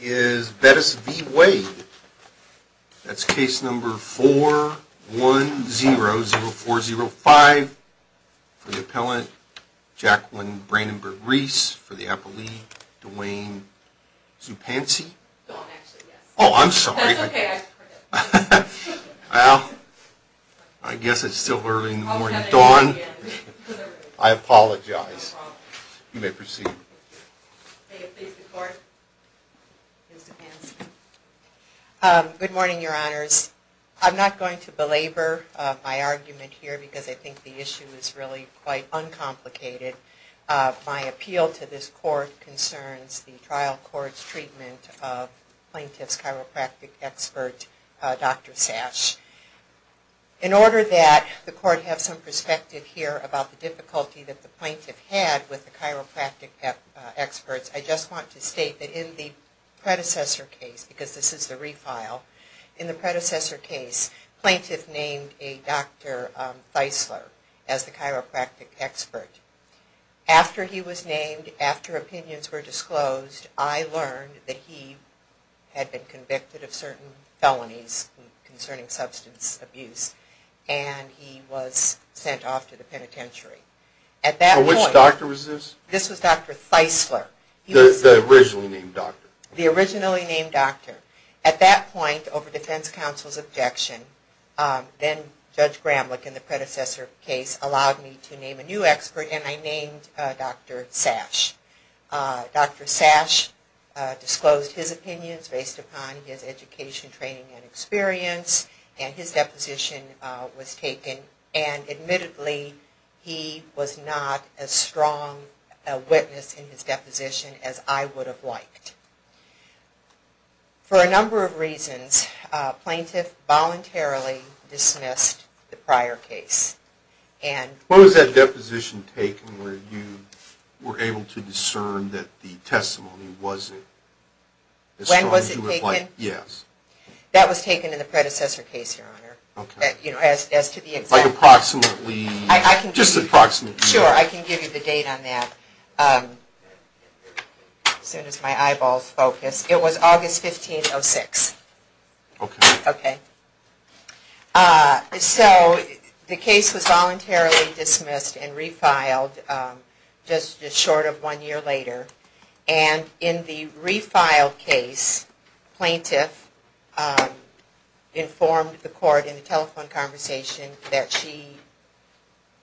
is Bettis v. Wade that's case number four one zero zero four zero five for the appellant Jacqueline Brandenburg-Reese for the appellee Dwayne Zupancy oh I'm sorry well I guess it's still early in the morning your honors I'm not going to belabor my argument here because I think the issue is really quite uncomplicated. My appeal to this court concerns the trial court's treatment of plaintiff's chiropractic expert Dr. Sash. In order that the court have some perspective here about the difficulty that the plaintiff had with the chiropractic experts I just want to state that in the predecessor case because this is the refile in the predecessor case plaintiff named a Dr. Theisler as the chiropractic expert. After he was named after opinions were disclosed I learned that he had been convicted of certain felonies concerning substance abuse and he was sent off to the penitentiary. At that point. Which doctor was this? This originally named doctor. The originally named doctor. At that point over defense counsel's objection then Judge Gramlich in the predecessor case allowed me to name a new expert and I named Dr. Sash. Dr. Sash disclosed his opinions based upon his education training and experience and his deposition was taken and admittedly he was not as strong a witness in his deposition as I would have liked. For a number of reasons plaintiff voluntarily dismissed the prior case. What was that deposition taken where you were able to discern that the testimony wasn't? When was it taken? Yes. That was taken in the predecessor case your honor. Okay. You know as to the exact. Like approximately. Just approximately. Sure I can give you the date on that as soon as my eyeballs focus. It was August 15, 06. Okay. Okay. So the case was voluntarily dismissed and refiled just short of one year later and in the refiled case plaintiff informed the court in a telephone conversation that she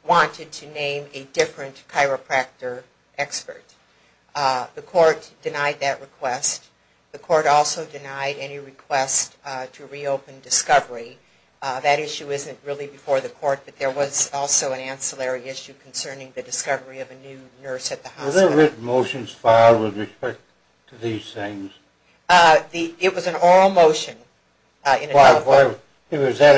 wanted to name a different chiropractor expert. The court denied that request. The court also denied any request to reopen discovery. That issue isn't really before the court but there was also an ancillary issue concerning the discovery of a new nurse at the hospital. Were there written motions filed with respect to these things? It was an oral motion in a telephone. If it was that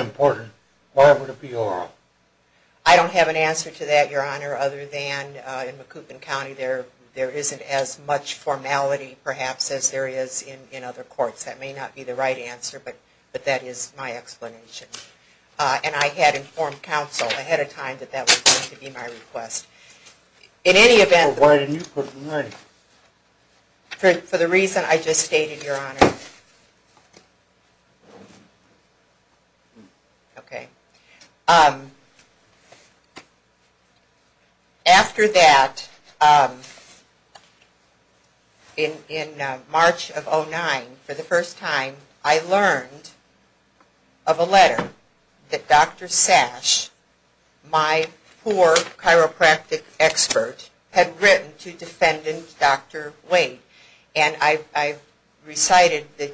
there isn't as much formality perhaps as there is in other courts. That may not be the right answer but that is my explanation. And I had informed counsel ahead of time that that was going to be my request. In any event. Why didn't you put the name? For the reason I just stated your Honor. Okay. After that in March of 09 for the first time I learned of a letter that Dr. Sash, my poor chiropractic expert, had written to defendant Dr. Waite and I recited the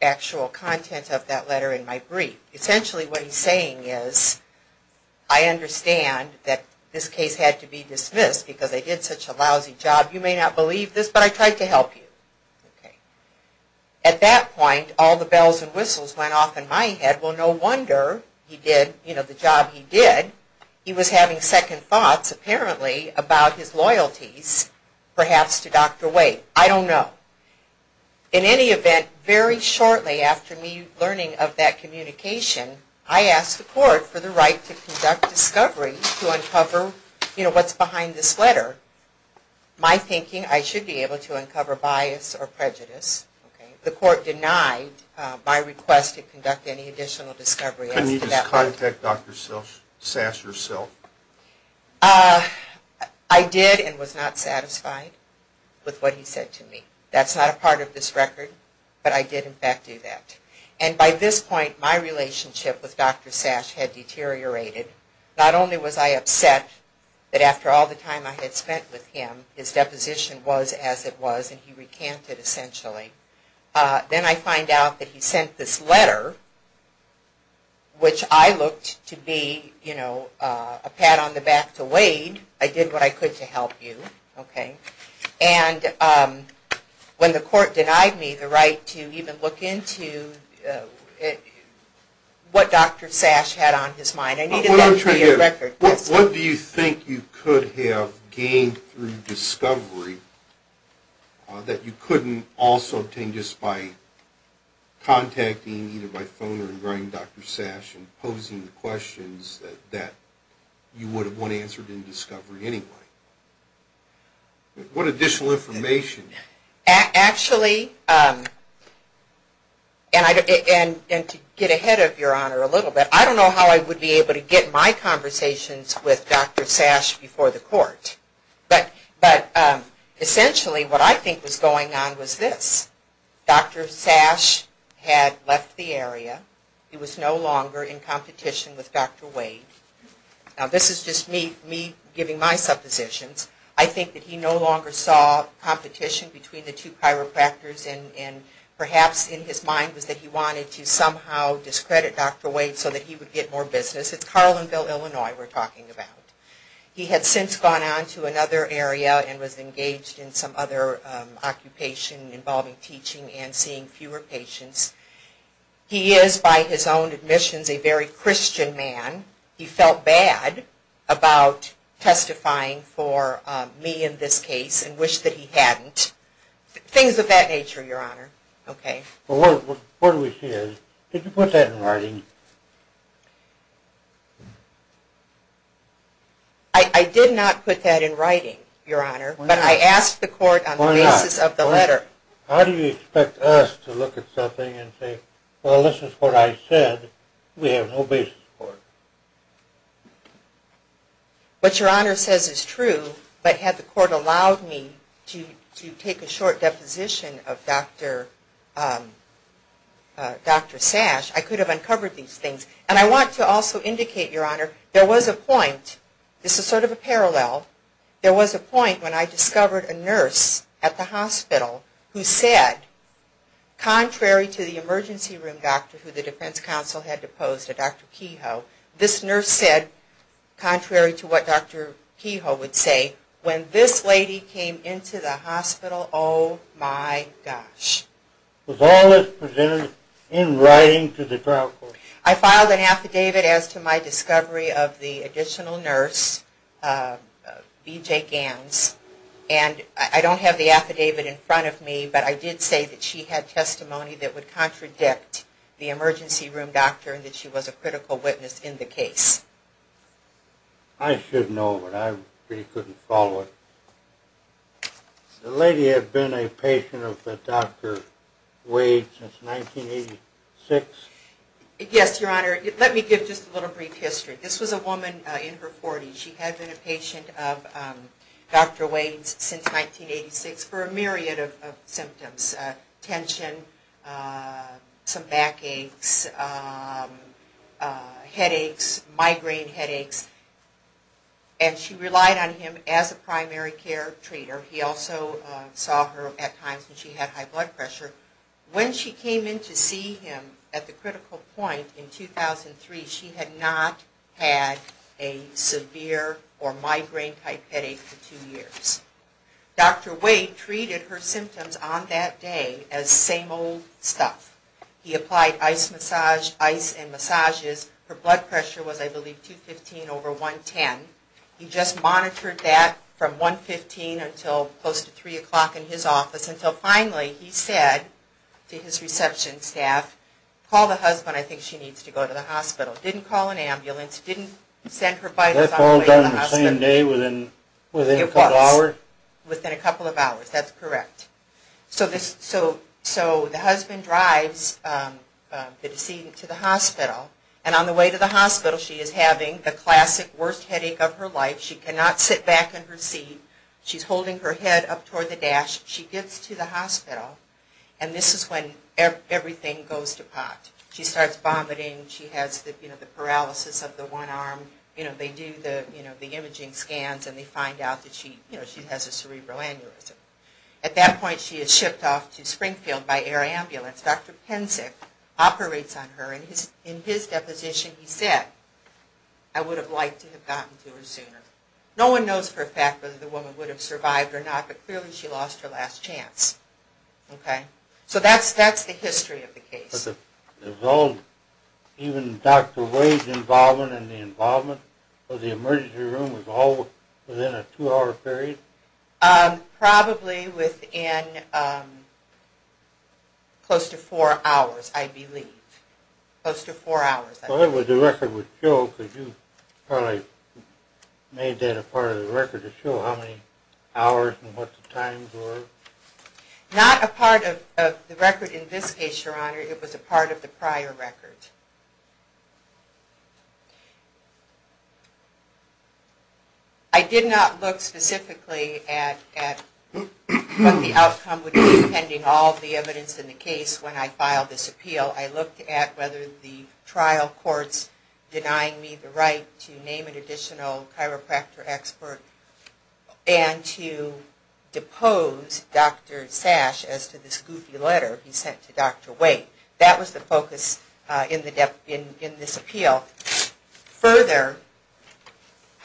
actual content of that letter in my brief. Essentially what he's saying is I understand that this case had to be dismissed because I did such a lousy job. You may not believe this but I tried to help you. At that point all the bells and whistles went off in my head. Well no wonder he did the job he did. He was having second thoughts apparently about his loyalties perhaps to Dr. Waite. I don't know. In any event very shortly after me learning of that communication I asked the court for the right to conduct discovery to uncover what's behind this letter. My thinking I should be able to uncover bias or prejudice. The court denied my request to conduct any additional discovery. Couldn't you just contact Dr. Sash yourself? I did and was not satisfied with what he said to me. That's not a part of this record but I did in fact do that. And by this point my relationship with Dr. Sash had deteriorated. Not only was I upset that after all the time I had spent with him his deposition was as it was and he recanted essentially. Then I find out that he which I looked to be you know a pat on the back to Waite. I did what I could to help you. And when the court denied me the right to even look into what Dr. Sash had on his mind I needed that to be a record. What do you think you could have gained through discovery that you couldn't also obtain just by contacting either by phone or in writing Dr. Sash and posing the questions that you would have wanted answered in discovery anyway? What additional information? Actually and to get ahead of your honor a little bit I don't know how I would be able to get my court. But essentially what I think was going on was this. Dr. Sash had left the area. He was no longer in competition with Dr. Waite. Now this is just me giving my suppositions. I think that he no longer saw competition between the two chiropractors and perhaps in his mind was that he wanted to somehow discredit Dr. Waite so that he would get more business. It's Carlinville, Illinois we're talking about. He had since gone on to another area and was engaged in some other occupation involving teaching and seeing fewer patients. He is by his own admissions a very Christian man. He felt bad about testifying for me in this case and wished that he hadn't. Things of that nature your honor. Okay. Well where do we see this? Did you put that in writing? I did not put that in writing your honor. But I asked the court on the basis of the letter. How do you expect us to look at something and say well this is what I said. We have no basis for it. What your honor says is true but had the court allowed me to take a short deposition of Dr. Sash I could have uncovered these things. And I want to also indicate your honor there was a point, this is sort of a parallel, there was a point when I discovered a nurse at the hospital who said contrary to the emergency room doctor who the defense counsel had deposed to Dr. Kehoe, this nurse said contrary to what Dr. Kehoe would say when this lady came into the hospital oh my gosh. Was all this presented in writing to the trial court? I filed an affidavit as to my discovery of the additional nurse BJ Ganz and I don't have the affidavit in front of me but I did say that she had testimony that would contradict the emergency room doctor and that she was a critical witness in the case. I should know but I really couldn't follow it. The lady had been a patient of Dr. Wade since 1986? Yes your honor. Let me give just a little brief history. This was a woman in her 40s. She had been a patient of Dr. Wade since 1986 for a myriad of symptoms. Tension, some back aches, headaches, migraine headaches and she relied on him as a primary care treater. He also saw her at times when she had high blood pressure. When she came in to see him at the critical point in 2003 she had not had a severe or migraine type headache for two years. Dr. Wade treated her symptoms on that day as same old stuff. He applied ice massage, ice and close to 3 o'clock in his office until finally he said to his reception staff, call the husband, I think she needs to go to the hospital. Didn't call an ambulance, didn't send her vitals on the way to the hospital. That's all done the same day within a couple of hours? Within a couple of hours, that's correct. So the husband drives the decedent to the hospital and on the way to the hospital she is having the classic worst headache of her life. She cannot sit back in her seat. She's holding her head up toward the dash. She gets to the hospital and this is when everything goes to pot. She starts vomiting. She has the paralysis of the one arm. You know, they do the imaging scans and they find out that she has a cerebral aneurysm. At that point she is shipped off to Springfield by air ambulance. Dr. Pensick operates on her and in his deposition he said, I would have liked to have gotten to her sooner. No one knows for a fact whether the woman would have survived or not, but clearly she lost her last chance. Okay, so that's the history of the case. Even Dr. Wade's involvement and the involvement of the emergency room was all within a two-hour period? Probably within close to four hours, I believe. Close to four hours. Well, the record would show, because you probably made that a part of the record, to show how many hours and what the times were? Not a part of the record in this case, Your Honor. It was a part of the prior record. I did not look specifically at what the outcome would be, pending all the evidence in the case when I filed this appeal. I looked at whether the trial courts denying me the right to name an additional chiropractor expert and to depose Dr. Sash as to this goofy letter he sent to Dr. Wade. That was the focus in this appeal. Further,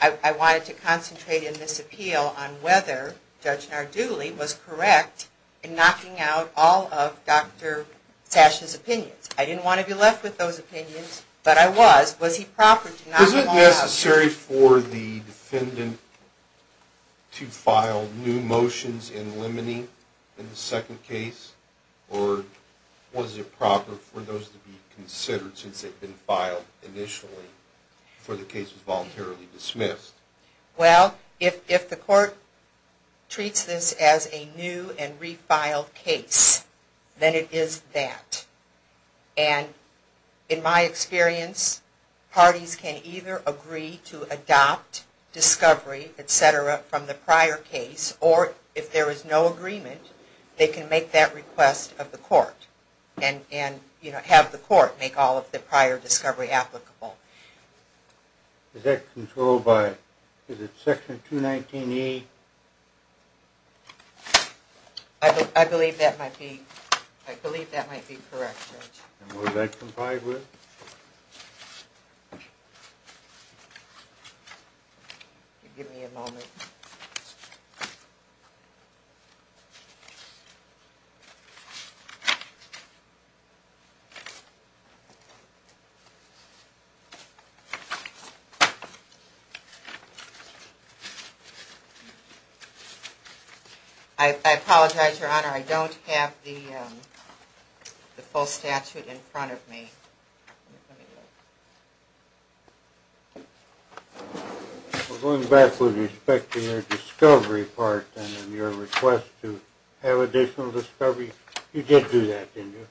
I wanted to concentrate in this appeal on whether Judge Narduli was correct in knocking out all of Dr. Sash's opinions. I didn't want to be left with those opinions, but I was. Was he proper to knock them all out? Was it necessary for the defendant to file new motions in limine in the second case, or was it proper for those to be considered since they'd been filed initially, before the case was voluntarily dismissed? Well, if the court treats this as a new and refiled case, then it is that. And in my experience, parties can either agree to adopt discovery, etc., from the prior case, or if there is no request of the court, and, you know, have the court make all of the prior discovery applicable. Is that controlled by, is it section 219E? I believe that might be, I believe that might be correct, Judge. And was that complied with? I apologize, Your Honor. I don't have the full statute in front of me. We're going back with respect to your discovery part, and your request to have additional discovery. You did do that, didn't you?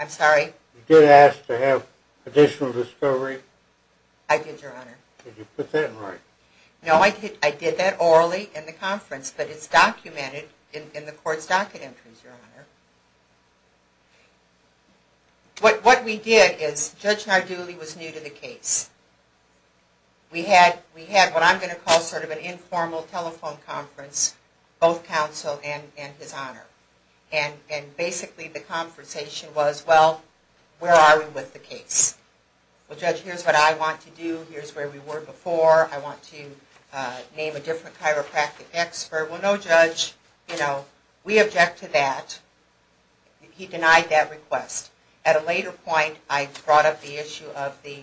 I'm sorry? You did ask to have additional discovery? I did, Your Honor. Did you put that in writing? No, I did that orally in the conference, but it's documented in the court's docket entries, Your Honor. What we did is, Judge Narduli was new to the case. We had what I'm going to call sort of an informal telephone conference, both counsel and his honor. And basically the conversation was, well, where are we with the case? Well, Judge, here's what I want to do. Here's where we were before. I want to name a different expert. Well, no, Judge, we object to that. He denied that request. At a later point, I brought up the issue of the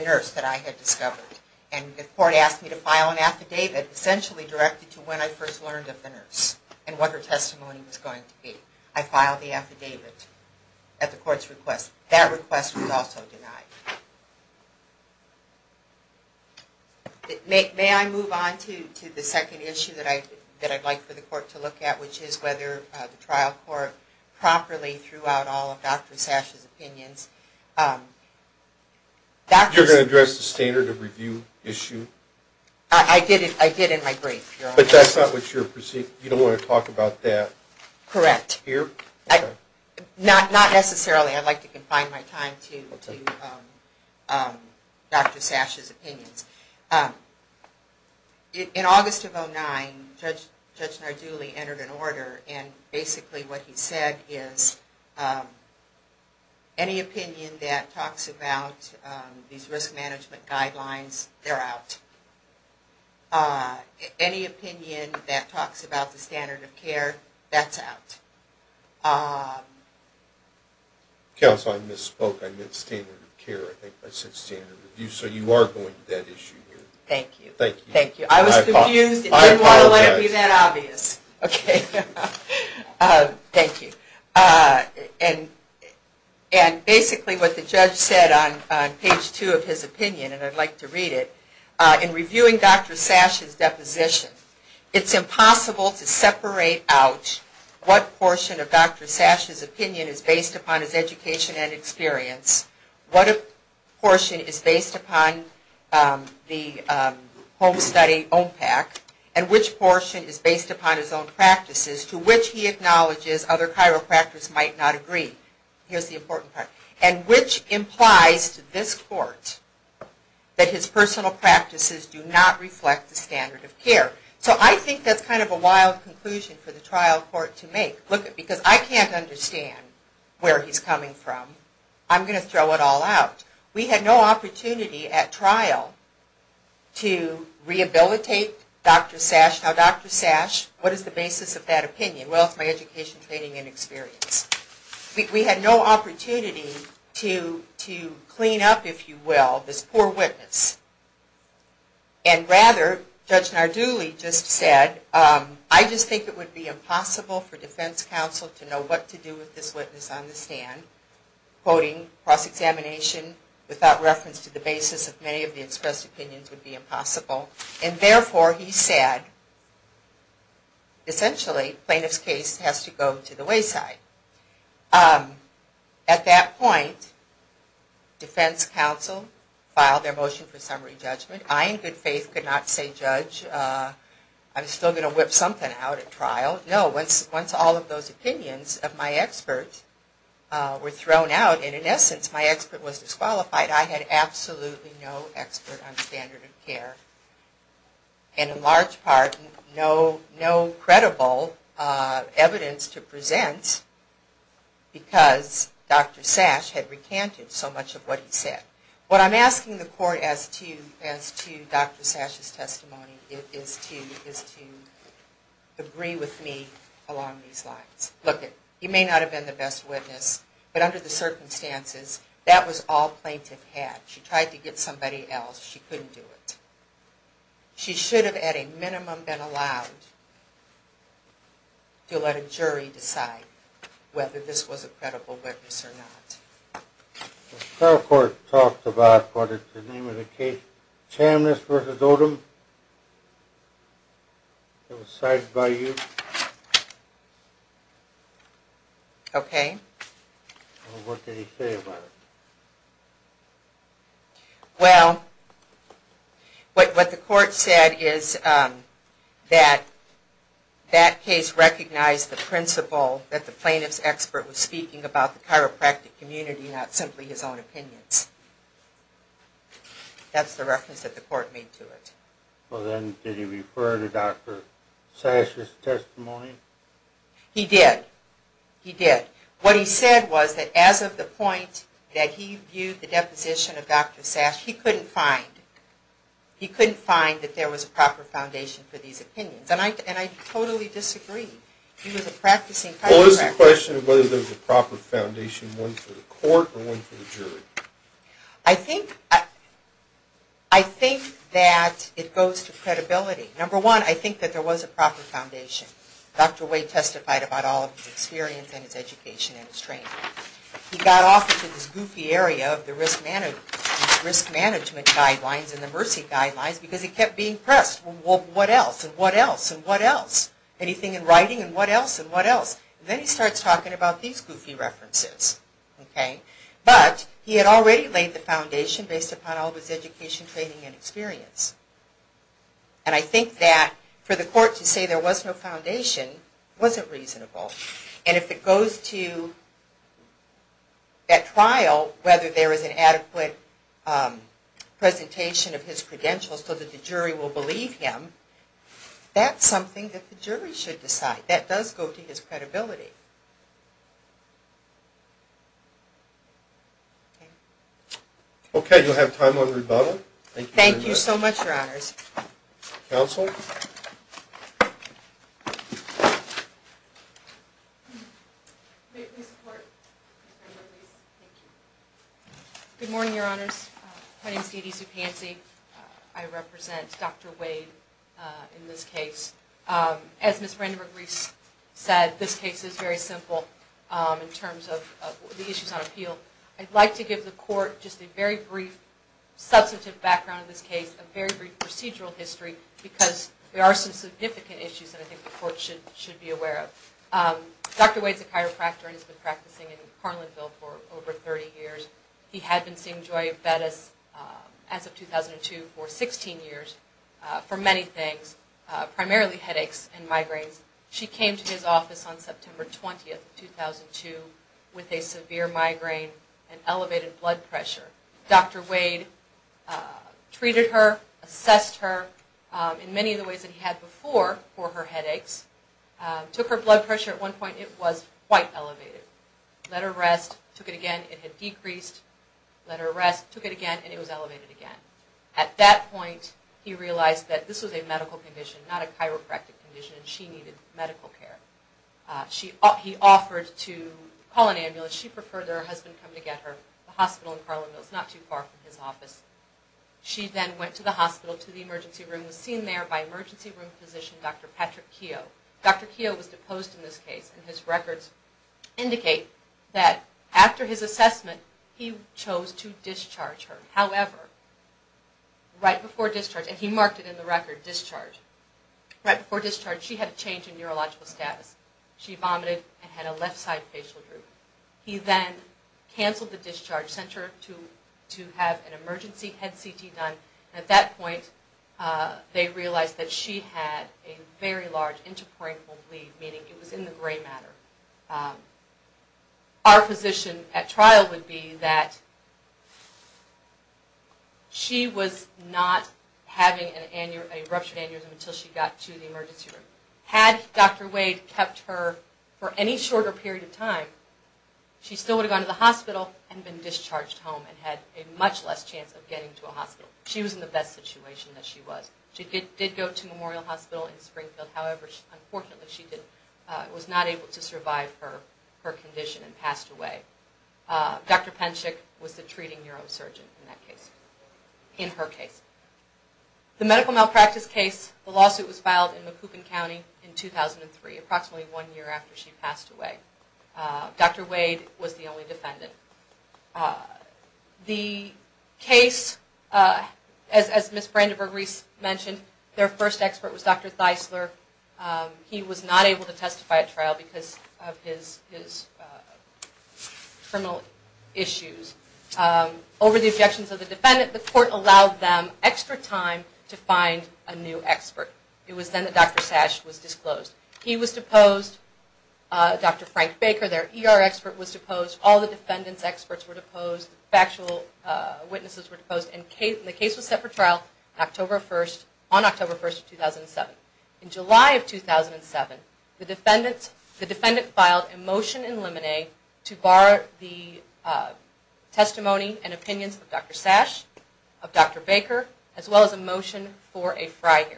nurse that I had discovered. And the court asked me to file an affidavit essentially directed to when I first learned of the nurse and what her testimony was going to be. I filed the affidavit at the court's request. That request was also denied. May I move on to the second issue that I'd like for the court to look at, which is whether the trial court properly threw out all of Dr. Sash's opinions? You're going to address the standard of review issue? I did in my brief, Your Honor. But that's not what you're perceiving. You don't want to talk about that? Correct. Here? Not necessarily. I'd like to confine my time to Dr. Sash's opinions. In August of 2009, Judge Narduli entered an order, and basically what he said is, any opinion that talks about these risk management guidelines, they're out. Any opinion that talks about the standard of care, that's out. Counsel, I misspoke. I meant standard of care. I think I said standard of review. So you are going to that issue here. Thank you. Thank you. I was confused. I didn't want to let it be that obvious. Thank you. And basically what the judge said on page two of his opinion, and I'd like to read it, in reviewing Dr. Sash's deposition, it's impossible to separate out what portion of Dr. Sash's opinion is based upon his education and experience, what portion is based upon the home study OMPAC, and which portion is based upon his own practices, to which he acknowledges other chiropractors might not agree. Here's the important part. And which implies to this court that his personal practices do not reflect the standard of care. So I think that's kind of a wild conclusion for the trial court to make, because I can't understand where he's coming from. I'm going to throw it all out. We had no opportunity at trial to rehabilitate Dr. Sash. Now Dr. Sash, what is the basis of that opinion? Well, to clean up, if you will, this poor witness. And rather, Judge Nardulli just said, I just think it would be impossible for defense counsel to know what to do with this witness on the stand. Quoting cross-examination without reference to the basis of many of the expressed opinions would be impossible. And therefore he said, essentially plaintiff's case has to go to the court. At that point, defense counsel filed their motion for summary judgment. I, in good faith, could not say, Judge, I'm still going to whip something out at trial. No, once all of those opinions of my expert were thrown out, and in essence my expert was disqualified, I had absolutely no expert on standard of care. And in large part, no credible evidence to present because Dr. Sash had recanted so much of what he said. What I'm asking the court as to Dr. Sash's testimony is to agree with me along these lines. Look, he may not have been the best witness, but under the circumstances, that was all plaintiff had. She tried to get somebody else. She couldn't do it. She should have, at a minimum, been allowed to let a jury decide whether this was a credible witness or not. The trial court talked about, what is the name of the case, Chamniss v. Odom. It was cited by you. Okay. What did he say about it? Well, what the court said is that that case recognized the principle that the plaintiff's expert was speaking about the chiropractic community, not simply his own opinions. That's the reference that the court made to it. Well then, did he refer to Dr. Sash's testimony? He did. He did. What he said was that as of the point that he viewed the deposition of Dr. Sash, he couldn't find, he couldn't find that there was a proper foundation for these opinions. And I totally disagree. He was a practicing chiropractor. Well, it's a question of whether there's a proper foundation, one for the court or one for the jury. I think, I think that it goes to credibility. Number one, I think that there was a proper foundation. Dr. Wade testified about all of his experience and his education and his training. He got off into this goofy area of the risk management guidelines and the mercy guidelines because he kept being pressed. Well, what else? And what else? And what else? Anything in writing? And what else? And what else? Then he starts talking about these goofy references. Okay. But he had already laid the foundation based upon all of his education, training, and experience. And I think that for the court to say there was no foundation wasn't reasonable. And if it goes to that trial, whether there is an adequate presentation of his credentials so that the jury will believe him, that's something that the jury should decide. That does go to his credibility. Okay. You'll have time on rebuttal. Thank you very much. Thank you, Your Honors. Counsel? Good morning, Your Honors. My name is Dede Zupanze. I represent Dr. Wade in this case. As Ms. Renderer-Reese said, this case is very simple in terms of the issues on appeal. I'd like to give the court just a very brief, substantive background on this case, very brief procedural history, because there are some significant issues that I think the court should be aware of. Dr. Wade is a chiropractor and has been practicing in Carlinville for over 30 years. He had been seeing Joya Bettis as of 2002 for 16 years for many things, primarily headaches and migraines. She came to his office on September 20, 2002, with a severe migraine and elevated blood pressure. Dr. Wade treated her, assessed her in many of the ways that he had before for her headaches, took her blood pressure. At one point, it was quite elevated. Let her rest, took it again. It had decreased. Let her rest, took it again, and it was elevated again. At that point, he realized that this was a medical condition, not a chiropractic condition, and she needed medical care. He offered to call an ambulance. She preferred that her husband come to get her. The hospital in Carlinville is not too far from his office. She then went to the hospital, to the emergency room, was seen there by emergency room physician Dr. Patrick Keogh. Dr. Keogh was deposed in this case, and his records indicate that after his assessment, he chose to discharge her. However, right before discharge, and he marked it in the record, discharge. Right before discharge, she had a change in neurological status. She vomited and had a left side facial groove. He then canceled the discharge, sent her to have an emergency head CT done, and at that point, they realized that she had a very large interporeal bleed, meaning it was in the gray matter. Our physician at trial would be that she was not having an interporeal bleed, a ruptured aneurysm, until she got to the emergency room. Had Dr. Wade kept her for any shorter period of time, she still would have gone to the hospital and been discharged home and had a much less chance of getting to a hospital. She was in the best situation that she was. She did go to Memorial Hospital in Springfield. However, unfortunately, she was not able to survive her condition and passed away. Dr. Penchik was the treating neurosurgeon in that case, in her case. The medical malpractice case, the lawsuit was filed in Macoupin County in 2003, approximately one year after she passed away. Dr. Wade was the only defendant. The case, as Ms. Brandenburg-Reese mentioned, their first expert was Dr. Theisler. He was not able to testify at trial because of his criminal issues. Over the objections of the defendant, the court allowed them extra time to find a new expert. It was then that Dr. Sash was disclosed. He was deposed. Dr. Frank Baker, their ER expert, was deposed. All the defendant's experts were deposed. Factual witnesses were deposed. The case was set for trial on October 1, 2007. In July of 2007, the defendant filed a motion in limine to bar the testimony and opinions of Dr. Sash, of Dr. Baker, as well as a motion for a friary.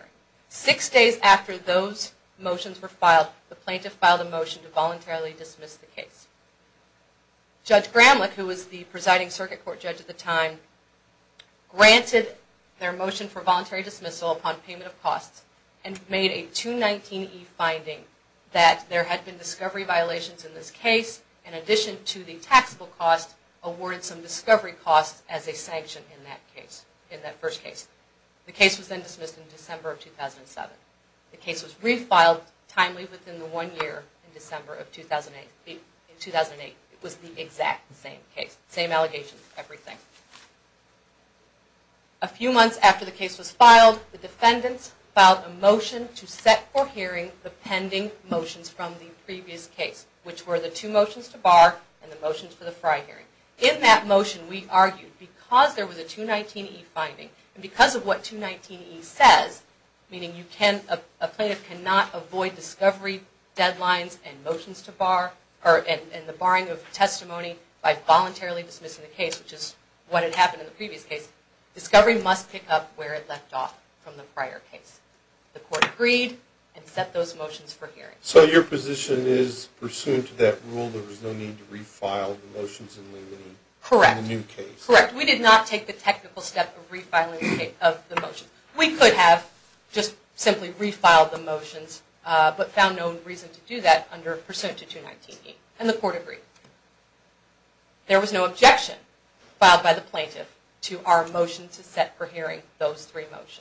Six days after those motions were filed, the plaintiff filed a motion to voluntarily dismiss the case. Judge Gramlich, who was the presiding circuit court judge at the time, granted their motion for voluntary dismissal upon payment of costs and made a 219E finding that there had been discovery violations in this case, in addition to the taxable cost, awarded some discovery costs as a sanction in that first case. The case was then dismissed in December of 2007. The case was refiled timely within the one year in December of 2008. It was the exact same case, same allegations, everything. A few months after the case was filed, the defendants filed a motion to set for hearing the pending motions from the previous case, which were the two motions to bar and the motions for the friary hearing. In that motion, we argued because there was a 219E finding and because of what 219E says, meaning a plaintiff cannot avoid discovery deadlines and the barring of testimony by voluntarily dismissing the case, which is what had happened in the previous case, discovery must pick up where it left off from the prior case. The court agreed and set those motions for hearing. So your position is pursuant to that rule, there was no need to refile the motions in the new case? Correct. We did not take the technical step of refiling the motions. We could have just simply refiled the motions, but found no reason to do that under pursuant to 219E, and the court agreed. There was no objection filed by the plaintiff to our motion to set for hearing those three motions.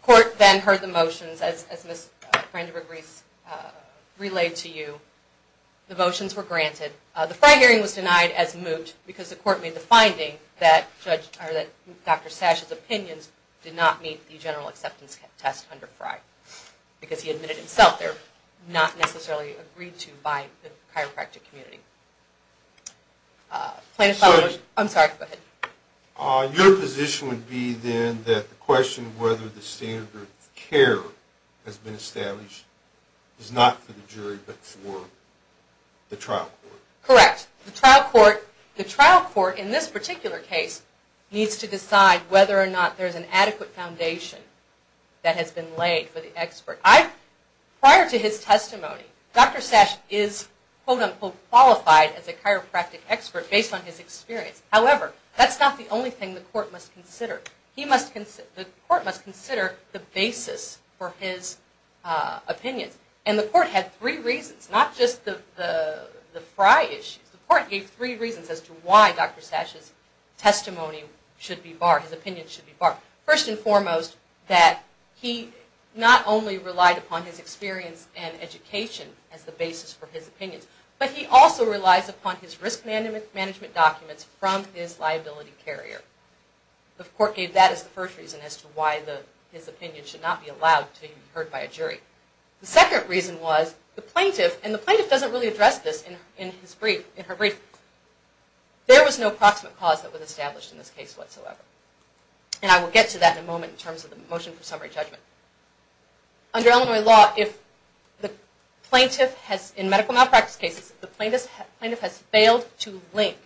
The court then heard the motions as Ms. Brandenburg-Reese relayed to you, the motions were granted. The friary hearing was denied as moot because the court made the finding that Dr. Sash's opinions did not meet the general acceptance test under FRI, because he admitted himself not necessarily agreed to by the chiropractic community. Your position would be then that the question whether the standard of care has been established is not for the jury but for the trial court? Correct. The trial court in this particular case needs to decide whether or not there is an adequate foundation that has been laid for the testimony. Dr. Sash is quote unquote qualified as a chiropractic expert based on his experience. However, that's not the only thing the court must consider. The court must consider the basis for his opinions, and the court had three reasons, not just the FRI issues. The court gave three reasons as to why Dr. Sash's testimony should be barred, his opinion should be barred. First and education as the basis for his opinions, but he also relies upon his risk management documents from his liability carrier. The court gave that as the first reason as to why his opinion should not be allowed to be heard by a jury. The second reason was the plaintiff, and the plaintiff doesn't really address this in her brief, there was no proximate cause that was established in this case whatsoever. And I will get to that in a moment in terms of the motion for summary judgment. Under Illinois law, if the plaintiff has, in medical malpractice cases, if the plaintiff has failed to link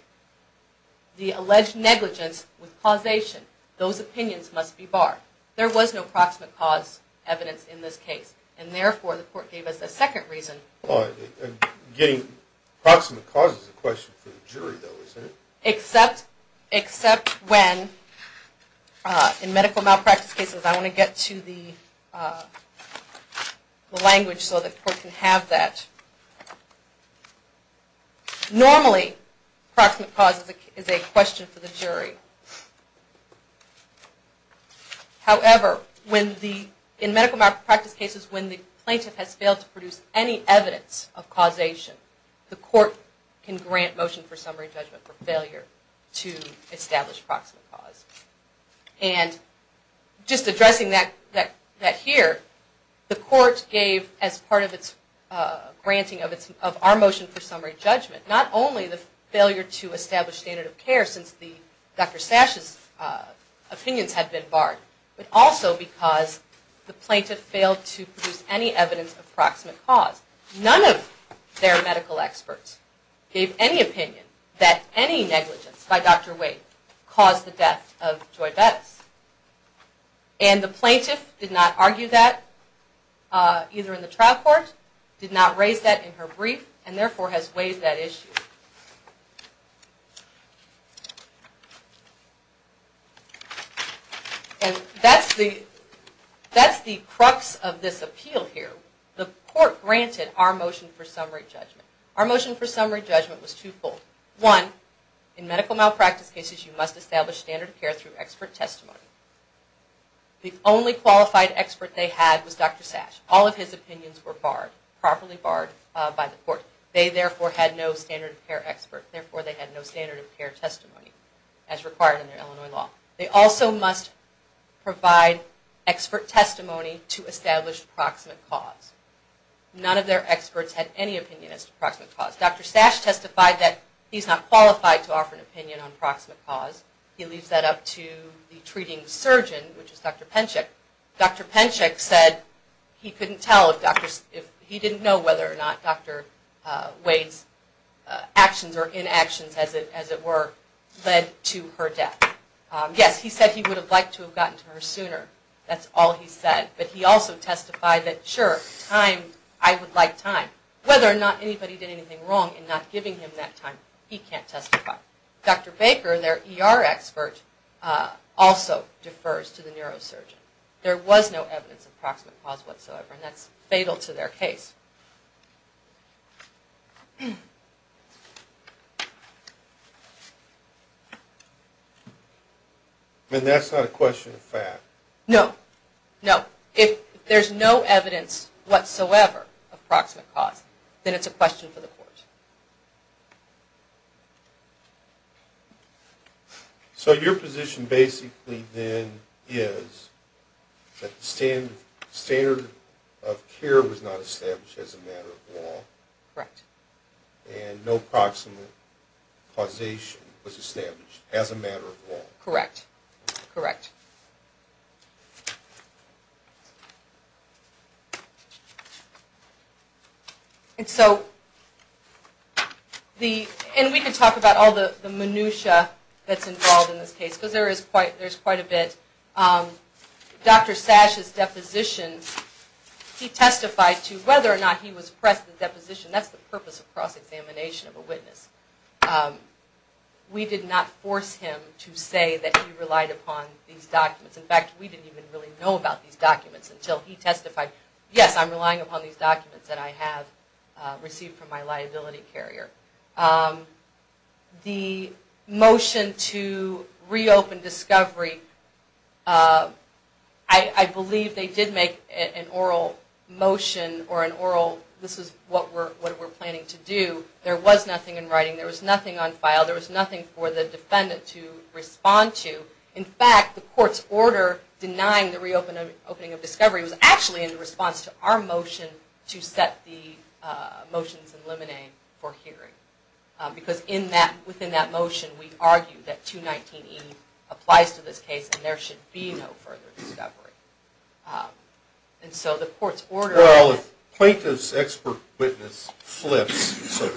the alleged negligence with causation, those opinions must be barred. There was no proximate cause evidence in this case, and therefore the court gave us a second reason. Getting proximate cause is a question for the jury though, isn't it? Except, except when, in medical malpractice cases, I want to get to the language so the court can have that. Normally, proximate cause is a question for the jury. However, when the, in medical malpractice cases, when the plaintiff has failed to produce any summary judgment for failure to establish proximate cause. And just addressing that here, the court gave, as part of its granting of our motion for summary judgment, not only the failure to establish standard of care since Dr. Sash's opinions had been barred, but also because the plaintiff failed to produce any evidence of proximate cause. None of their medical experts gave any opinion that any negligence by Dr. Wade caused the death of Joy Bettis. And the plaintiff did not argue that either in the trial court, did not raise that in her brief, and therefore has waived that issue. And that's the, that's the crux of this appeal here. The court granted our motion for summary judgment was twofold. One, in medical malpractice cases, you must establish standard of care through expert testimony. The only qualified expert they had was Dr. Sash. All of his opinions were barred, properly barred by the court. They therefore had no standard of care expert, therefore they had no standard of care testimony as required in their Illinois law. They also must provide expert testimony to establish proximate cause. None of their experts had any opinion as to proximate cause. Dr. Sash testified that he's not qualified to offer an opinion on proximate cause. He leaves that up to the treating surgeon, which is Dr. Penchik. Dr. Penchik said he couldn't tell if Dr., if he didn't know whether or not Dr. Wade's actions or inactions as it, as it were, led to her death. Yes, he said he would have liked to have gotten to her sooner. That's all he said. But he also testified that sure, time, I would like time. Whether or not he did anything wrong in not giving him that time, he can't testify. Dr. Baker, their ER expert, also defers to the neurosurgeon. There was no evidence of proximate cause whatsoever, and that's fatal to their case. And that's not a question of fact? No, no. If there's no evidence whatsoever of proximate cause, then it's a question for the court. So your position basically then is that the standard of care was not established as a matter of law? Correct. And no proximate causation was established as a matter of law? Correct, correct. And so the, and we can talk about all the minutiae that's involved in this case, because there is quite, there's quite a bit. Dr. Sash's deposition, he testified to whether or not he was pressed in the deposition. That's the purpose of cross-examination of a witness. We did not force him to say that he relied upon these documents. In fact, we didn't even really know about these documents until he testified, yes, I'm relying upon these documents that I have received from my liability carrier. The motion to reopen discovery, I believe they did make an oral motion or an oral, this is what we're planning to do. There was nothing in writing. There was nothing on file. There was nothing for the defendant to open discovery. It was actually in response to our motion to set the motions in limine for hearing. Because in that, within that motion, we argued that 219E applies to this case and there should be no further discovery. And so the court's order. Well, if plaintiff's expert witness flips, so to this record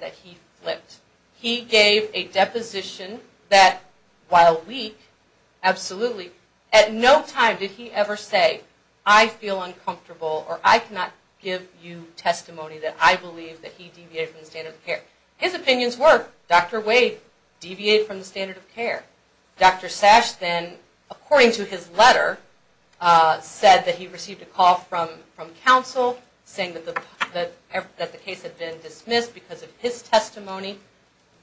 that he flipped. He gave a deposition that while weak, absolutely at no time did he ever say, I feel uncomfortable or I cannot give you testimony that I believe that he deviated from the standard of care. His opinions were, Dr. Wade deviated from the standard of care. Dr. Sash then according to his letter, said that he received a call from counsel saying that the case had been dismissed because of his testimony.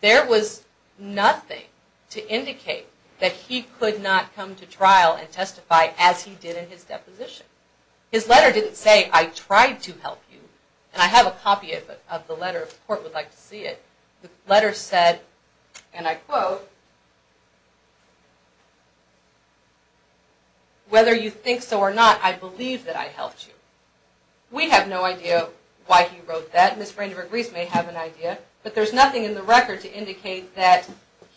There was nothing to indicate that he could not come to trial and testify as he did in his deposition. His letter didn't say, I tried to help you. And I have a copy of the letter if the court would like to see it. The letter said, and I quote, whether you think so or not, I believe that I helped you. We have no idea why he wrote that. Ms. Brandenburg-Reese may have an idea, but there's nothing in the record to indicate that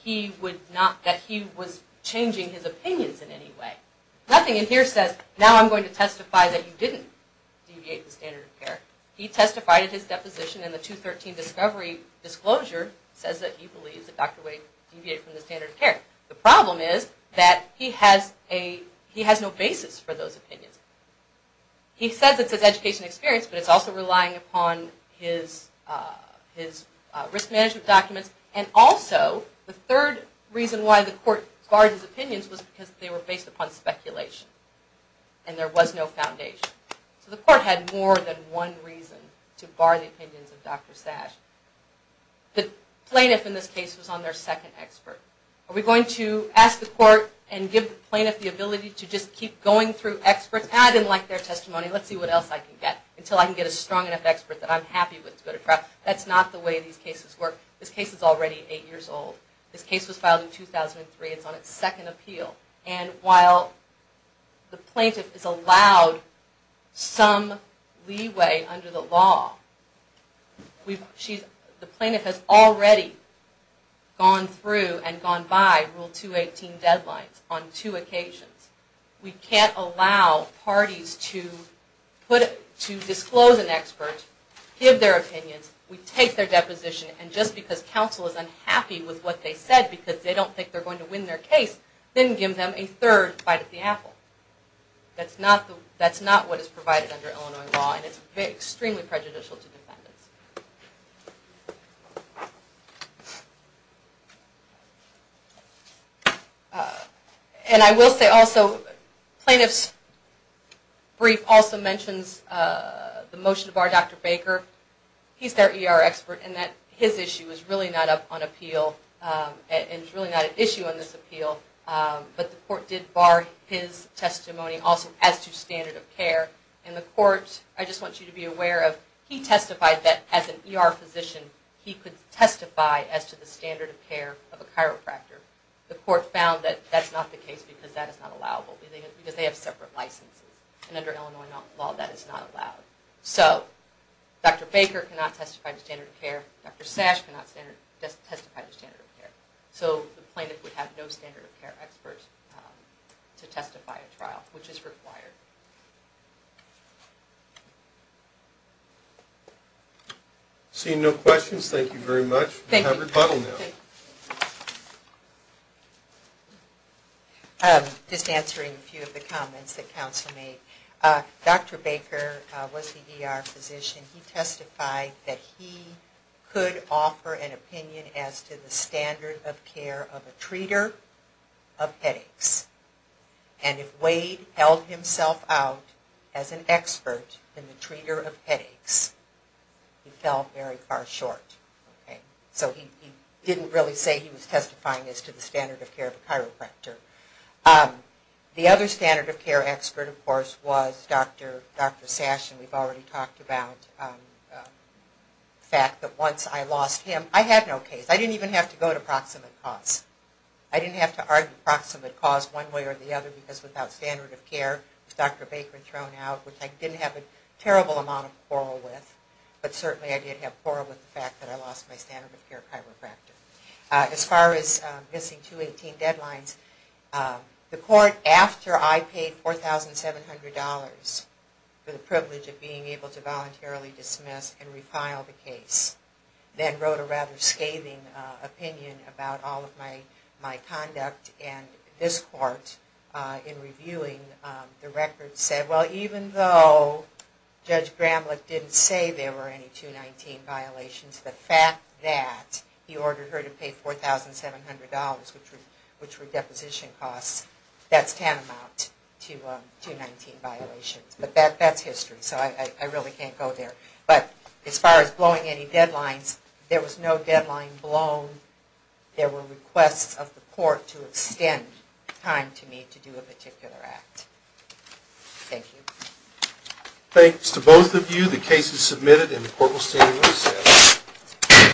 he would not, that he was changing his opinions in any way. Nothing in here says, now I'm going to testify that you didn't deviate the standard of care. He testified at his deposition and the 213 discovery disclosure says that he believes that Dr. Wade deviated from the standard of care. The problem is that he has a, he has no basis for those opinions. He says it's his education experience, but it's also relying upon his risk management documents. And also the third reason why the court barred his opinions was because they were based upon speculation and there was no foundation. So the court had more than one reason to bar the opinions of Dr. Sash. The plaintiff in this case was on their second expert. Are we going to ask the court and give the plaintiff the ability to just keep going through experts? I didn't like their testimony. Let's see what else I can get until I can get a strong enough expert that I'm happy with to go to trial. That's not the way these cases work. This case is already eight years old. This case was filed in 2003. It's on its second appeal. And while the plaintiff is allowed some leeway under the law, the plaintiff has already gone through and gone by Rule 218 deadlines on two occasions. We can't allow parties to put, to disclose an expert, give their opinions. We take their deposition and just because counsel is unhappy with what they said because they don't think they're going to win their case, then give them a third bite at the apple. That's not what is provided under Illinois law and it's extremely prejudicial to defendants. And I will say also, plaintiff's brief also mentions the motion to bar Dr. Baker. He's their ER expert and that his issue is really not up on appeal and it's really not an issue on this appeal, but the court did bar his testimony also as to standard of care and the court, I just want you to be aware of, he testified that as an ER physician he could testify as to the standard of care of a chiropractor. The court found that that's not the case because that is not allowable because they have separate licenses and under Illinois law that is not allowed. So Dr. Baker cannot testify to standard of care. Dr. Sash cannot testify to standard of care. So the plaintiff would have no standard of care expert to testify at trial, which is required. Seeing no questions, thank you very much. We have rebuttal now. Just answering a few of the comments that counsel made. Dr. Baker was the ER physician. He testified that he could offer an opinion as to the standard of care of a treater of headaches. And if Wade held himself out as an expert in the treater of headaches, he fell very far short. So he didn't really say he was testifying as to the standard of care of a chiropractor. The other standard of care expert, of course, was Dr. Sash. And we've already talked about the fact that once I lost him, I had no case. I didn't even have to go to proximate cause. I didn't have to argue proximate cause one way or the other because without standard of care, with Dr. Baker thrown out, which I didn't have a terrible amount of quarrel with, but certainly I did have quarrel with the fact that I lost my standard of care chiropractor. As far as missing 218 deadlines, the court, after I paid $4,700 for the privilege of being able to voluntarily dismiss and refile the case, then wrote a rather scathing opinion about all of my conduct. And this court, in reviewing the record, said, well, even though Judge Gramlich didn't say there were any 219 violations, the fact that he ordered her to pay $4,700, which were deposition costs, that's tantamount to 219 violations. But that's history, so I really can't go there. But as far as blowing any deadlines, there was no deadline blown. There were requests of the court to extend time to me to do a particular act. Thank you. Thanks to both of you. The case is submitted and the court will stand recessed.